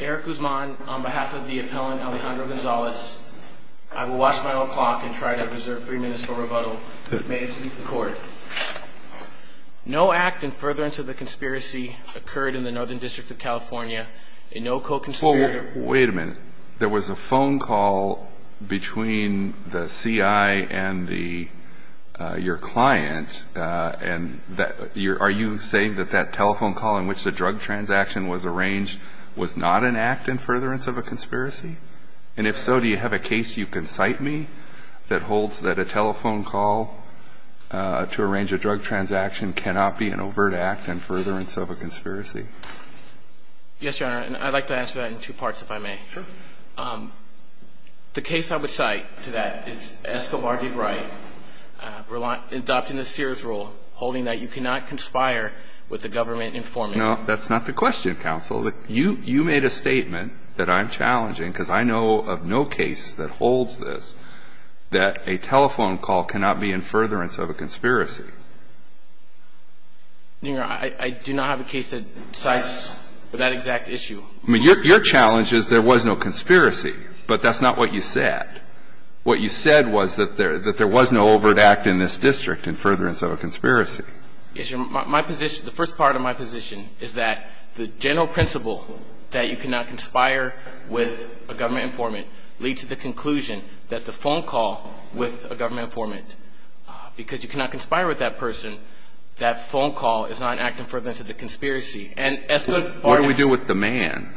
Eric Guzman, on behalf of the appellant Alejandro Gonzalez, I will watch my own clock and try to reserve three minutes for rebuttal. May it please the court. No act in furtherance of the conspiracy occurred in the Northern District of California, and no co-conspirator Wait a minute. There was a phone call between the C.I. and your client, and are you saying that that telephone call in which the drug transaction was arranged was not an act in furtherance of a conspiracy? And if so, do you have a case you can cite me that holds that a telephone call to arrange a drug transaction cannot be an overt act in furtherance of a conspiracy? Yes, Your Honor, and I'd like to answer that in two parts, if I may. Sure. The case I would cite to that is Escobar v. Wright, adopting the Sears rule, holding that you cannot conspire with the government informant. No, that's not the question, counsel. You made a statement that I'm challenging, because I know of no case that holds this, that a telephone call cannot be in furtherance of a conspiracy. Your Honor, I do not have a case that cites that exact issue. I mean, your challenge is there was no conspiracy, but that's not what you said. What you said was that there was no overt act in this district in furtherance of a conspiracy. Yes, Your Honor. My position, the first part of my position is that the general principle that you cannot conspire with a government informant leads to the conclusion that the phone call with a government informant, because you cannot conspire with that person, that phone call is not in active furtherance of the conspiracy. And Escobar — What do we do with the man?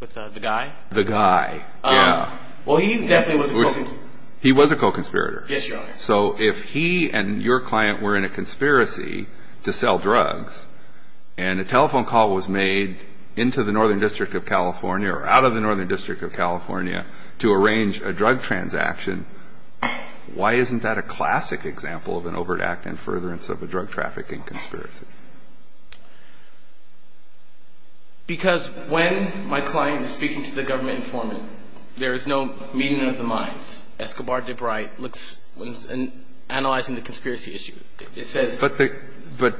With the guy? The guy, yeah. Well, he definitely was a co-conspirator. He was a co-conspirator. Yes, Your Honor. So if he and your client were in a conspiracy to sell drugs and a telephone call was made into the Northern District of California or out of the Northern District of California, and they were trying to arrange a drug transaction, why isn't that a classic example of an overt act in furtherance of a drug trafficking conspiracy? Because when my client is speaking to the government informant, there is no meeting of the minds. Escobar DeBrite looks — when he's analyzing the conspiracy issue, it says — But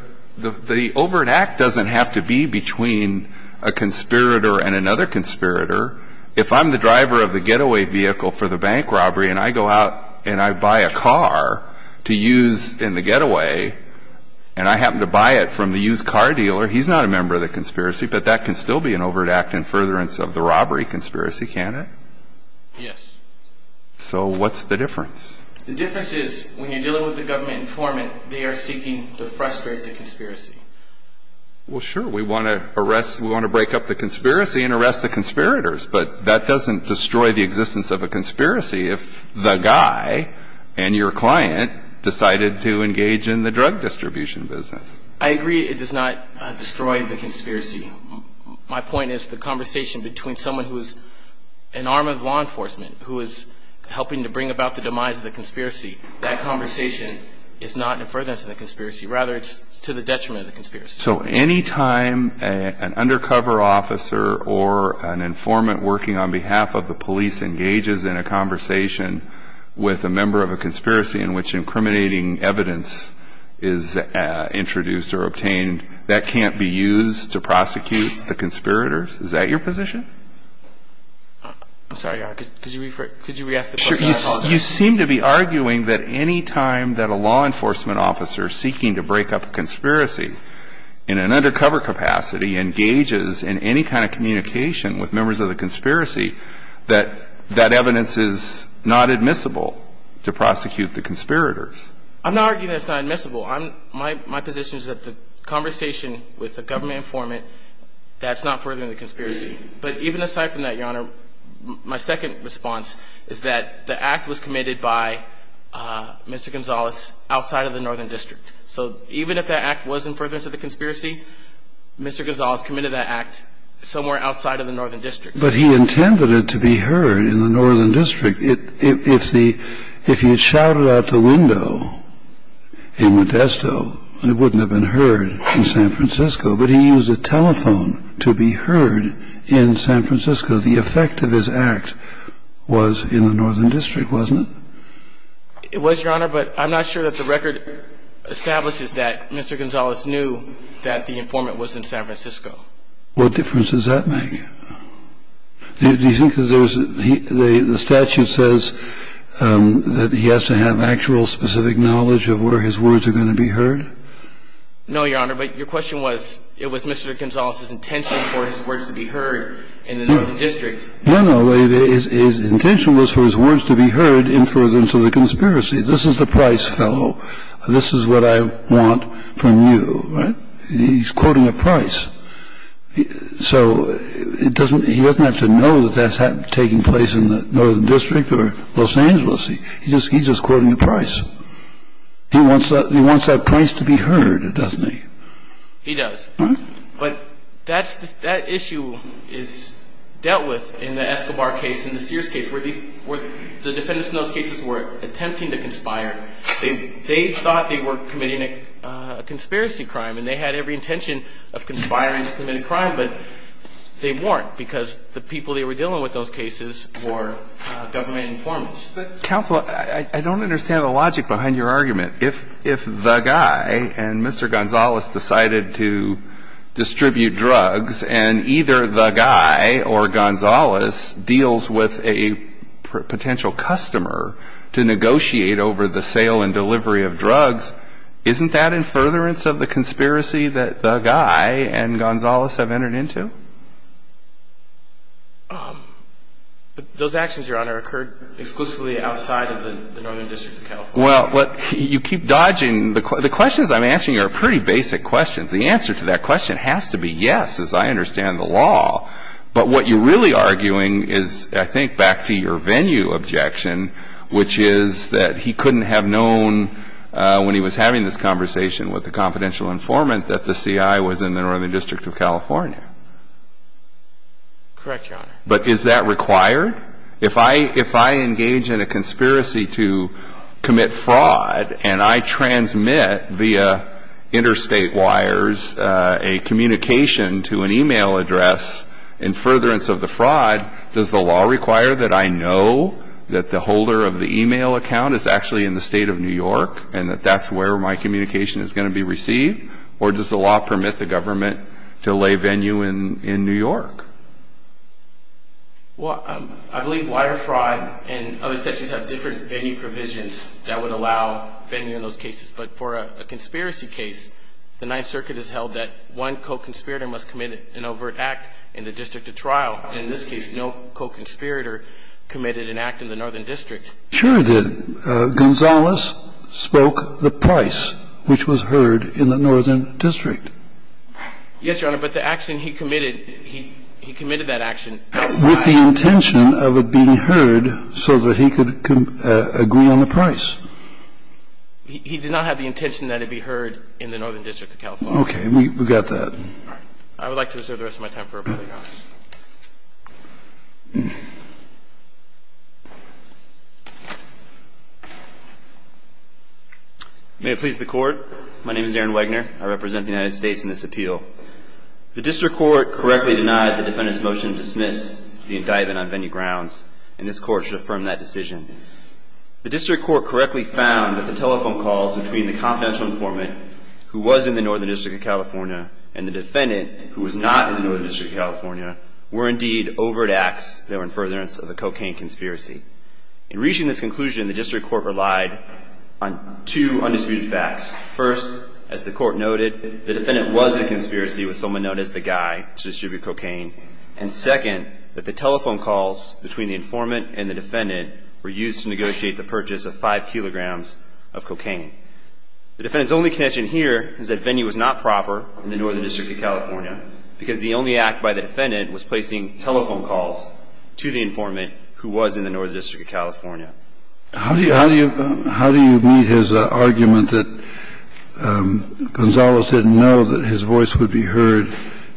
the overt act doesn't have to be between a conspirator and another conspirator. If I'm the driver of the getaway vehicle for the bank robbery and I go out and I buy a car to use in the getaway, and I happen to buy it from the used car dealer, he's not a member of the conspiracy, but that can still be an overt act in furtherance of the robbery conspiracy, can't it? Yes. So what's the difference? The difference is when you're dealing with the government informant, they are seeking to frustrate the conspiracy. Well, sure, we want to arrest — we want to break up the conspiracy and arrest the conspirators, but that doesn't destroy the existence of a conspiracy if the guy and your client decided to engage in the drug distribution business. I agree it does not destroy the conspiracy. My point is the conversation between someone who is an arm of law enforcement, who is helping to bring about the demise of the conspiracy, that conversation is not in furtherance of the conspiracy. Rather, it's to the detriment of the conspiracy. So any time an undercover officer or an informant working on behalf of the police engages in a conversation with a member of a conspiracy in which incriminating evidence is introduced or obtained, that can't be used to prosecute the conspirators? Is that your position? I'm sorry, could you rephrase — could you re-ask the question? You seem to be arguing that any time that a law enforcement officer seeking to break up a conspiracy in an undercover capacity engages in any kind of communication with members of the conspiracy, that that evidence is not admissible to prosecute the conspirators. I'm not arguing it's not admissible. My position is that the conversation with the government informant, that's not furthering the conspiracy. But even aside from that, Your Honor, my second response is that the act was committed by Mr. Gonzalez outside of the Northern District. So even if that act was in furtherance of the conspiracy, Mr. Gonzalez committed that act somewhere outside of the Northern District. But he intended it to be heard in the Northern District. If he had shouted out the window in Modesto, it wouldn't have been heard in San Francisco. But he used a telephone to be heard in San Francisco. The effect of his act was in the Northern District, wasn't it? It was, Your Honor, but I'm not sure that the record establishes that Mr. Gonzalez knew that the informant was in San Francisco. What difference does that make? Do you think that there's — the statute says that he has to have actual specific knowledge of where his words are going to be heard? No, Your Honor. But your question was, it was Mr. Gonzalez's intention for his words to be heard in the Northern District. No, no. His intention was for his words to be heard in furtherance of the conspiracy. This is the Price fellow. This is what I want from you, right? He's quoting a Price. So he doesn't have to know that that's taking place in the Northern District or Los Angeles. He's just quoting a Price. He wants that Price to be heard, doesn't he? He does. But that issue is dealt with in the Escobar case and the Sears case, where the defendants in those cases were attempting to conspire. They thought they were committing a conspiracy crime, and they had every intention of conspiring to commit a crime, but they weren't, because the people they were dealing with in those cases were government informants. Counsel, I don't understand the logic behind your argument. If the guy and Mr. Gonzalez decided to distribute drugs, and either the guy or Gonzalez deals with a potential customer to negotiate over the sale and delivery of drugs, isn't that in furtherance of the conspiracy that the guy and Gonzalez have entered into? Those actions, Your Honor, occurred exclusively outside of the Northern District of California. Well, you keep dodging. The questions I'm answering are pretty basic questions. The answer to that question has to be yes, as I understand the law. But what you're really arguing is, I think, back to your venue objection, which is that he couldn't have known when he was having this conversation with the confidential informant that the CI was in the Northern District of California. Correct, Your Honor. But is that required? If I engage in a conspiracy to commit fraud, and I transmit via interstate wires a communication to an e-mail address in furtherance of the fraud, does the law require that I know that the holder of the e-mail account is actually in the State of New York, and that that's where my communication is going to be received? Or does the law permit the government to lay venue in New York? Well, I believe wire fraud and other sections have different venue provisions that would allow venue in those cases. But for a conspiracy case, the Ninth Circuit has held that one co-conspirator must commit an overt act in the district of trial. In this case, no co-conspirator committed an act in the Northern District. Sure he did. Gonzales spoke the price, which was heard in the Northern District. Yes, Your Honor, but the action he committed, he committed that action outside. With the intention of it being heard so that he could agree on the price. He did not have the intention that it be heard in the Northern District of California. Okay. We got that. All right. I would like to reserve the rest of my time for public comment. May it please the Court. My name is Aaron Wegner. I represent the United States in this appeal. The District Court correctly denied the defendant's motion to dismiss the indictment on venue grounds, and this Court should affirm that decision. The District Court correctly found that the telephone calls between the confidential informant, who was in the Northern District of California, and the defendant, who was not in the Northern District of California, were indeed overt acts that were in furtherance of a cocaine conspiracy. In reaching this conclusion, the District Court relied on two undisputed facts. First, as the Court noted, the defendant was a conspiracy with someone known as the guy to distribute cocaine. And second, that the telephone calls between the informant and the defendant were used to negotiate the purchase of five kilograms of cocaine. The defendant's only connection here is that venue was not proper in the Northern District of California, because the only act by the defendant was placing telephone calls to the informant who was in the Northern District of California. How do you meet his argument that Gonzales didn't know that his voice would be heard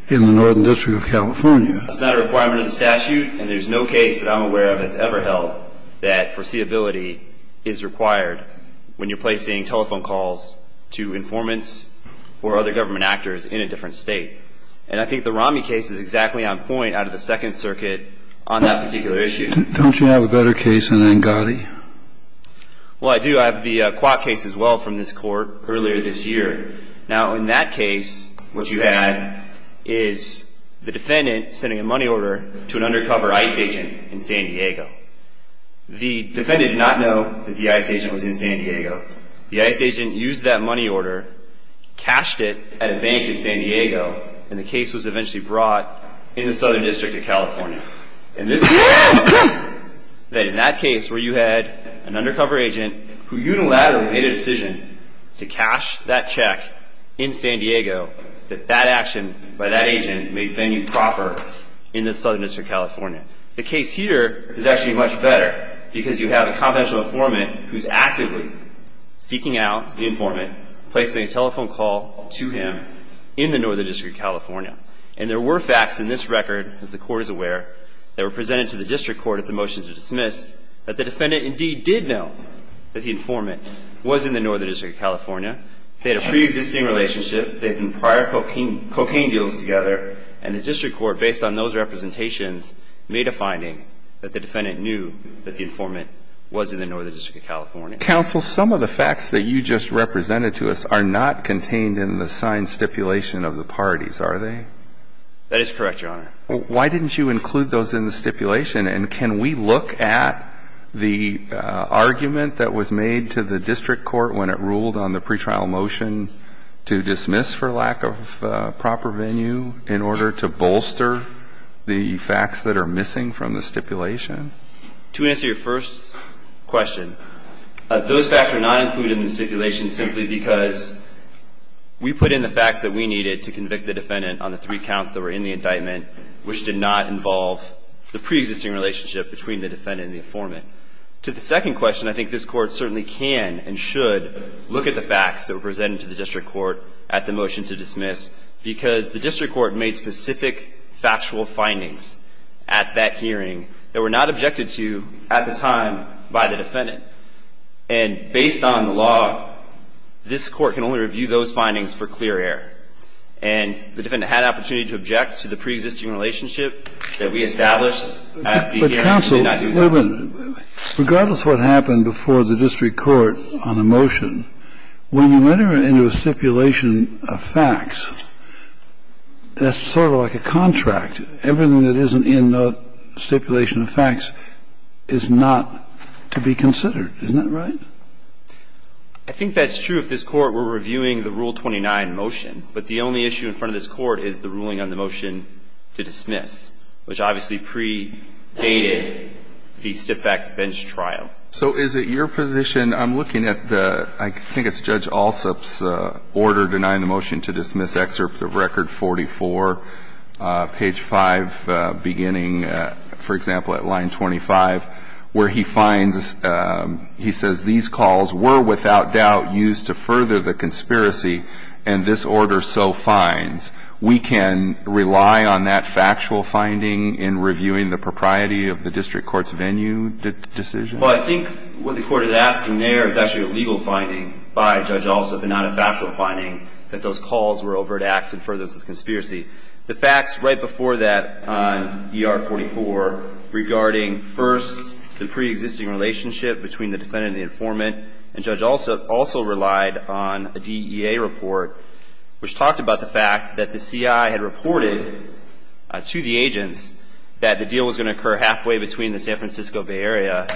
in the Northern District of California? It's not a requirement of the statute, and there's no case that I'm aware of that's ever held that foreseeability is required when you're placing telephone calls to informants or other government actors in a different state. And I think the Romney case is exactly on point out of the Second Circuit on that particular issue. Don't you have a better case than Angotti? Well, I do. I have the Kwok case as well from this Court earlier this year. Now, in that case, what you had is the defendant sending a money order to an undercover ICE agent in San Diego. The defendant did not know that the ICE agent was in San Diego. The ICE agent used that money order, cashed it at a bank in San Diego, and the case was eventually brought in the Southern District of California. And this means that in that case, where you had an undercover agent who unilaterally made a decision to cash that check in San Diego, that that action by that agent may have been improper in the Southern District of California. The case here is actually much better, because you have a confidential informant who's actively seeking out the informant, placing a telephone call to him in the Northern District of California. And there were facts in this record, as the Court is aware, that were presented to the District Court at the motion to dismiss that the defendant indeed did know that the informant was in the Northern District of California. They had a preexisting relationship. They had done prior cocaine deals together. And the District Court, based on those representations, made a finding that the defendant knew that the informant was in the Northern District of California. Counsel, some of the facts that you just represented to us are not contained in the signed stipulation of the parties, are they? That is correct, Your Honor. Why didn't you include those in the stipulation? And can we look at the argument that was made to the District Court when it ruled on the pretrial motion to dismiss for lack of proper venue in order to bolster the facts that are missing from the stipulation? To answer your first question, those facts are not included in the stipulation simply because we put in the facts that we needed to convict the defendant on the three counts that were in the indictment which did not involve the preexisting relationship between the defendant and the informant. To the second question, I think this Court certainly can and should look at the facts that were presented to the District Court at the motion to dismiss because the District Court made specific factual findings at that hearing that were not objected to at the time by the defendant. And based on the law, this Court can only review those findings for clear air. And the defendant had opportunity to object to the preexisting relationship that we established at the hearing. But counsel, regardless of what happened before the District Court on the motion, when you enter into a stipulation of facts, that's sort of like a contract. Everything that isn't in the stipulation of facts is not to be considered. Isn't that right? I think that's true if this Court were reviewing the Rule 29 motion. But the only issue in front of this Court is the ruling on the motion to dismiss, which obviously predated the stiff-backs bench trial. So is it your position, I'm looking at the, I think it's Judge Alsup's order denying the motion to dismiss excerpt of record 44, page 5, beginning, for example, at line 25, where he finds, he says, these calls were without doubt used to further the conspiracy, and this order so finds. We can rely on that factual finding in reviewing the propriety of the District Court's venue decision? Well, I think what the Court is asking there is actually a legal finding by Judge Alsup that those calls were overt acts and furthers the conspiracy. The facts right before that on ER 44 regarding first the preexisting relationship between the defendant and the informant, and Judge Alsup also relied on a DEA report which talked about the fact that the CI had reported to the agents that the deal was going to occur halfway between the San Francisco Bay Area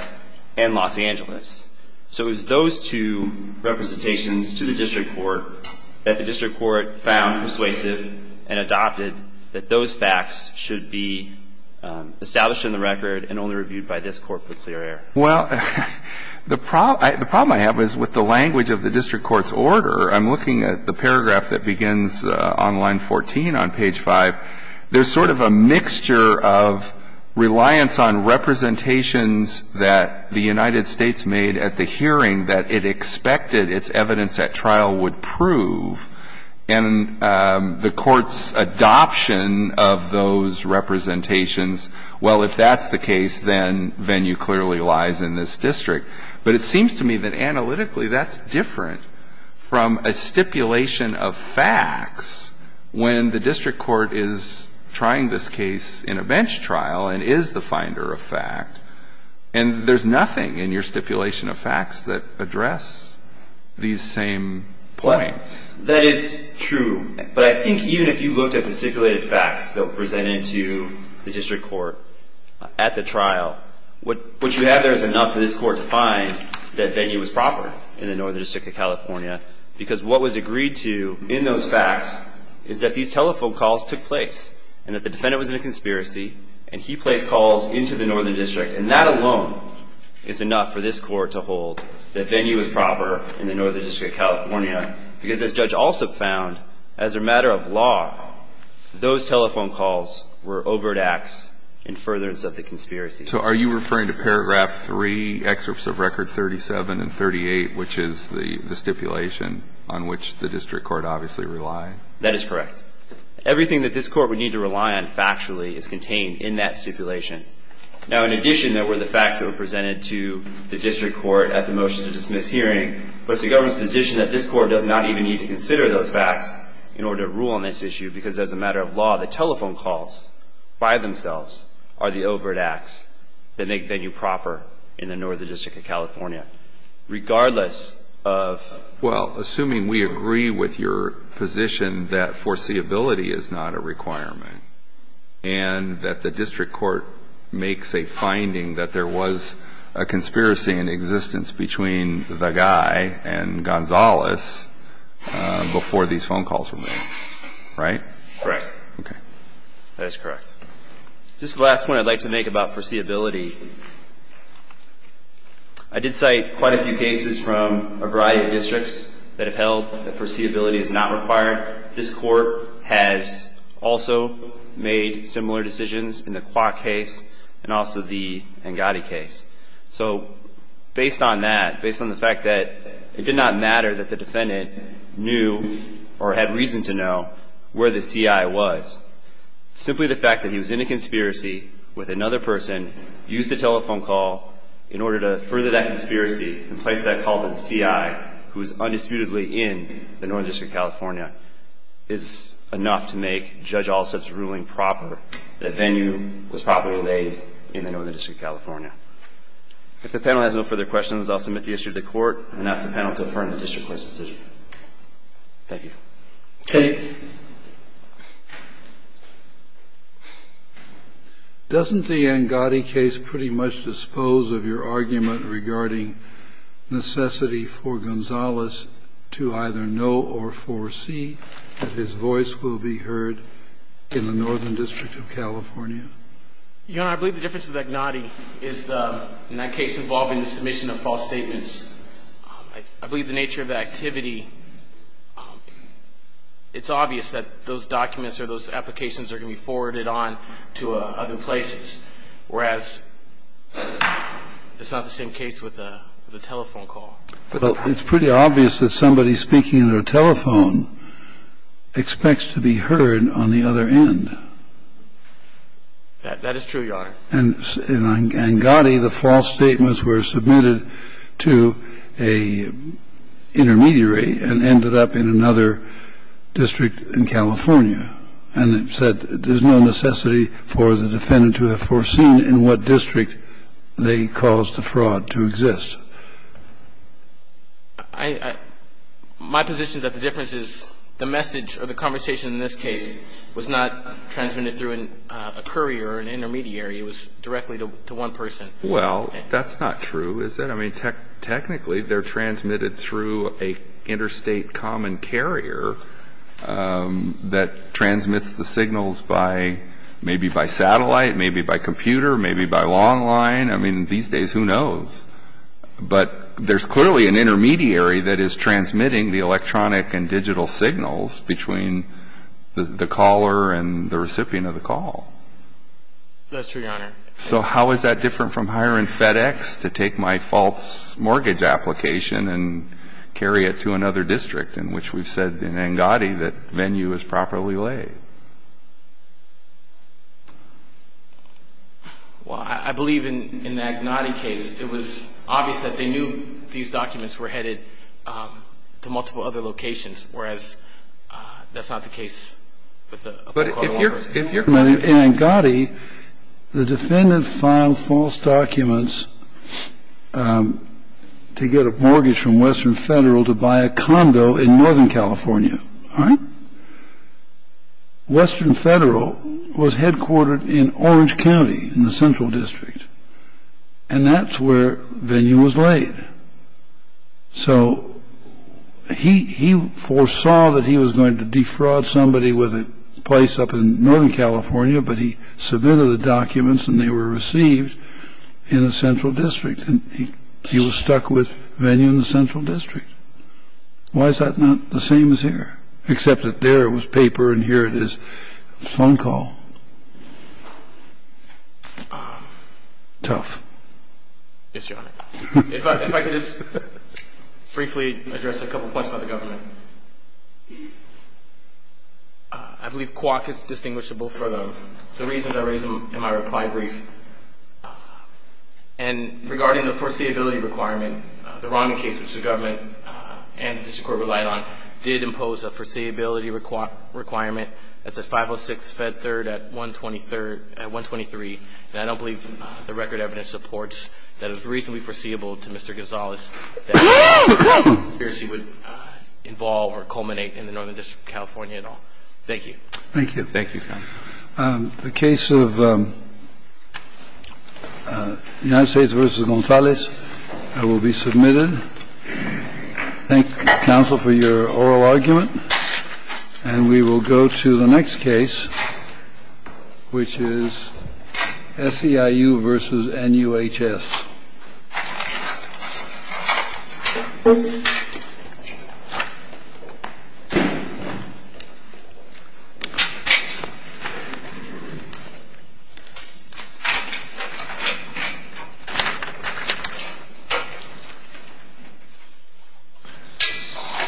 and Los Angeles. So it was those two representations to the District Court that the District Court found persuasive and adopted that those facts should be established in the record and only reviewed by this Court for clear air. Well, the problem I have is with the language of the District Court's order. I'm looking at the paragraph that begins on line 14 on page 5. There's sort of a mixture of reliance on representations that the United States made at the hearing that it expected its evidence at trial would prove. And the Court's adoption of those representations, well, if that's the case, then venue clearly lies in this district. But it seems to me that analytically that's different from a stipulation of facts when the District Court is trying this case in a bench trial and is the finder of fact. And there's nothing in your stipulation of facts that address these same points. That is true. But I think even if you looked at the stipulated facts that were presented to the District Court at the trial, what you have there is enough for this Court to find that venue was proper in the Northern District of California because what was agreed to in those facts is that these telephone calls took place and that the defendant was in a conspiracy and he placed calls into the Northern District. And that alone is enough for this Court to hold that venue is proper in the Northern District of California because, as Judge Alsop found, as a matter of law, those telephone calls were overt acts in furtherance of the conspiracy. So are you referring to paragraph 3, excerpts of record 37 and 38, which is the stipulation on which the District Court obviously relied? That is correct. Everything that this Court would need to rely on factually is contained in that stipulation. Now, in addition, there were the facts that were presented to the District Court at the motion to dismiss hearing. But it's the government's position that this Court does not even need to consider those facts in order to rule on this issue because, as a matter of law, the telephone calls by themselves are the overt acts that make venue proper in the Northern District of California. Regardless of ---- I mean, we agree with your position that foreseeability is not a requirement and that the District Court makes a finding that there was a conspiracy in existence between the guy and Gonzales before these phone calls were made, right? Correct. Okay. That is correct. Just the last point I'd like to make about foreseeability, I did cite quite a few districts that have held that foreseeability is not required. This Court has also made similar decisions in the Kwok case and also the Angadi case. So based on that, based on the fact that it did not matter that the defendant knew or had reason to know where the CI was, simply the fact that he was in a conspiracy with another person, used a telephone call in order to further that is enough to make Judge Alsup's ruling proper that a venue was properly laid in the Northern District of California. If the panel has no further questions, I'll submit the issue to the Court and ask the panel to affirm the District Court's decision. Thank you. Kennedy. Doesn't the Angadi case pretty much dispose of your argument regarding necessity for Gonzalez to either know or foresee that his voice will be heard in the Northern District of California? Your Honor, I believe the difference with Angadi is in that case involving the submission of false statements, I believe the nature of the activity, it's obvious that those documents or those applications are going to be forwarded on to other places, whereas it's not the same case with a telephone call. Well, it's pretty obvious that somebody speaking on a telephone expects to be heard on the other end. That is true, Your Honor. And in Angadi, the false statements were submitted to an intermediary and ended up in another district in California, and it said there's no necessity for the defendant to have foreseen in what district they caused the fraud to exist. My position is that the difference is the message or the conversation in this case was not transmitted through a courier or an intermediary. It was directly to one person. Well, that's not true, is it? I mean, technically they're transmitted through an interstate common carrier that transmits the signals by maybe by satellite, maybe by computer, maybe by long line. I mean, these days, who knows? But there's clearly an intermediary that is transmitting the electronic and digital signals between the caller and the recipient of the call. That's true, Your Honor. So how is that different from hiring FedEx to take my false mortgage application and carry it to another district, in which we've said in Angadi that venue is properly laid? Well, I believe in the Angadi case, it was obvious that they knew these documents were headed to multiple other locations, whereas that's not the case with the Fulcro Longford case. But if you're in Angadi, the defendant filed false documents to get a mortgage from Western Federal to buy a condo in northern California, all right? Western Federal was headquartered in Orange County in the central district. And that's where venue was laid. So he foresaw that he was going to defraud somebody with a place up in northern California, but he submitted the documents and they were received in a central district. And he was stuck with venue in the central district. Why is that not the same as here, except that there was paper and here it is phone call? Tough. Yes, Your Honor. If I could just briefly address a couple points about the government. I believe Kwok is distinguishable for the reasons I raised in my reply brief. And regarding the foreseeability requirement, the Romney case, which the government and the district court relied on, did impose a foreseeability requirement as a 506 fed third at 123. And I don't believe the record evidence supports that it was reasonably foreseeable to Mr. Gonzales that a conspiracy would involve or culminate in the northern district of California at all. Thank you. Thank you. Thank you, counsel. The case of the United States versus Gonzalez will be submitted. Thank you, counsel, for your oral argument. And we will go to the next case, which is SEIU versus NUHS. Thank you.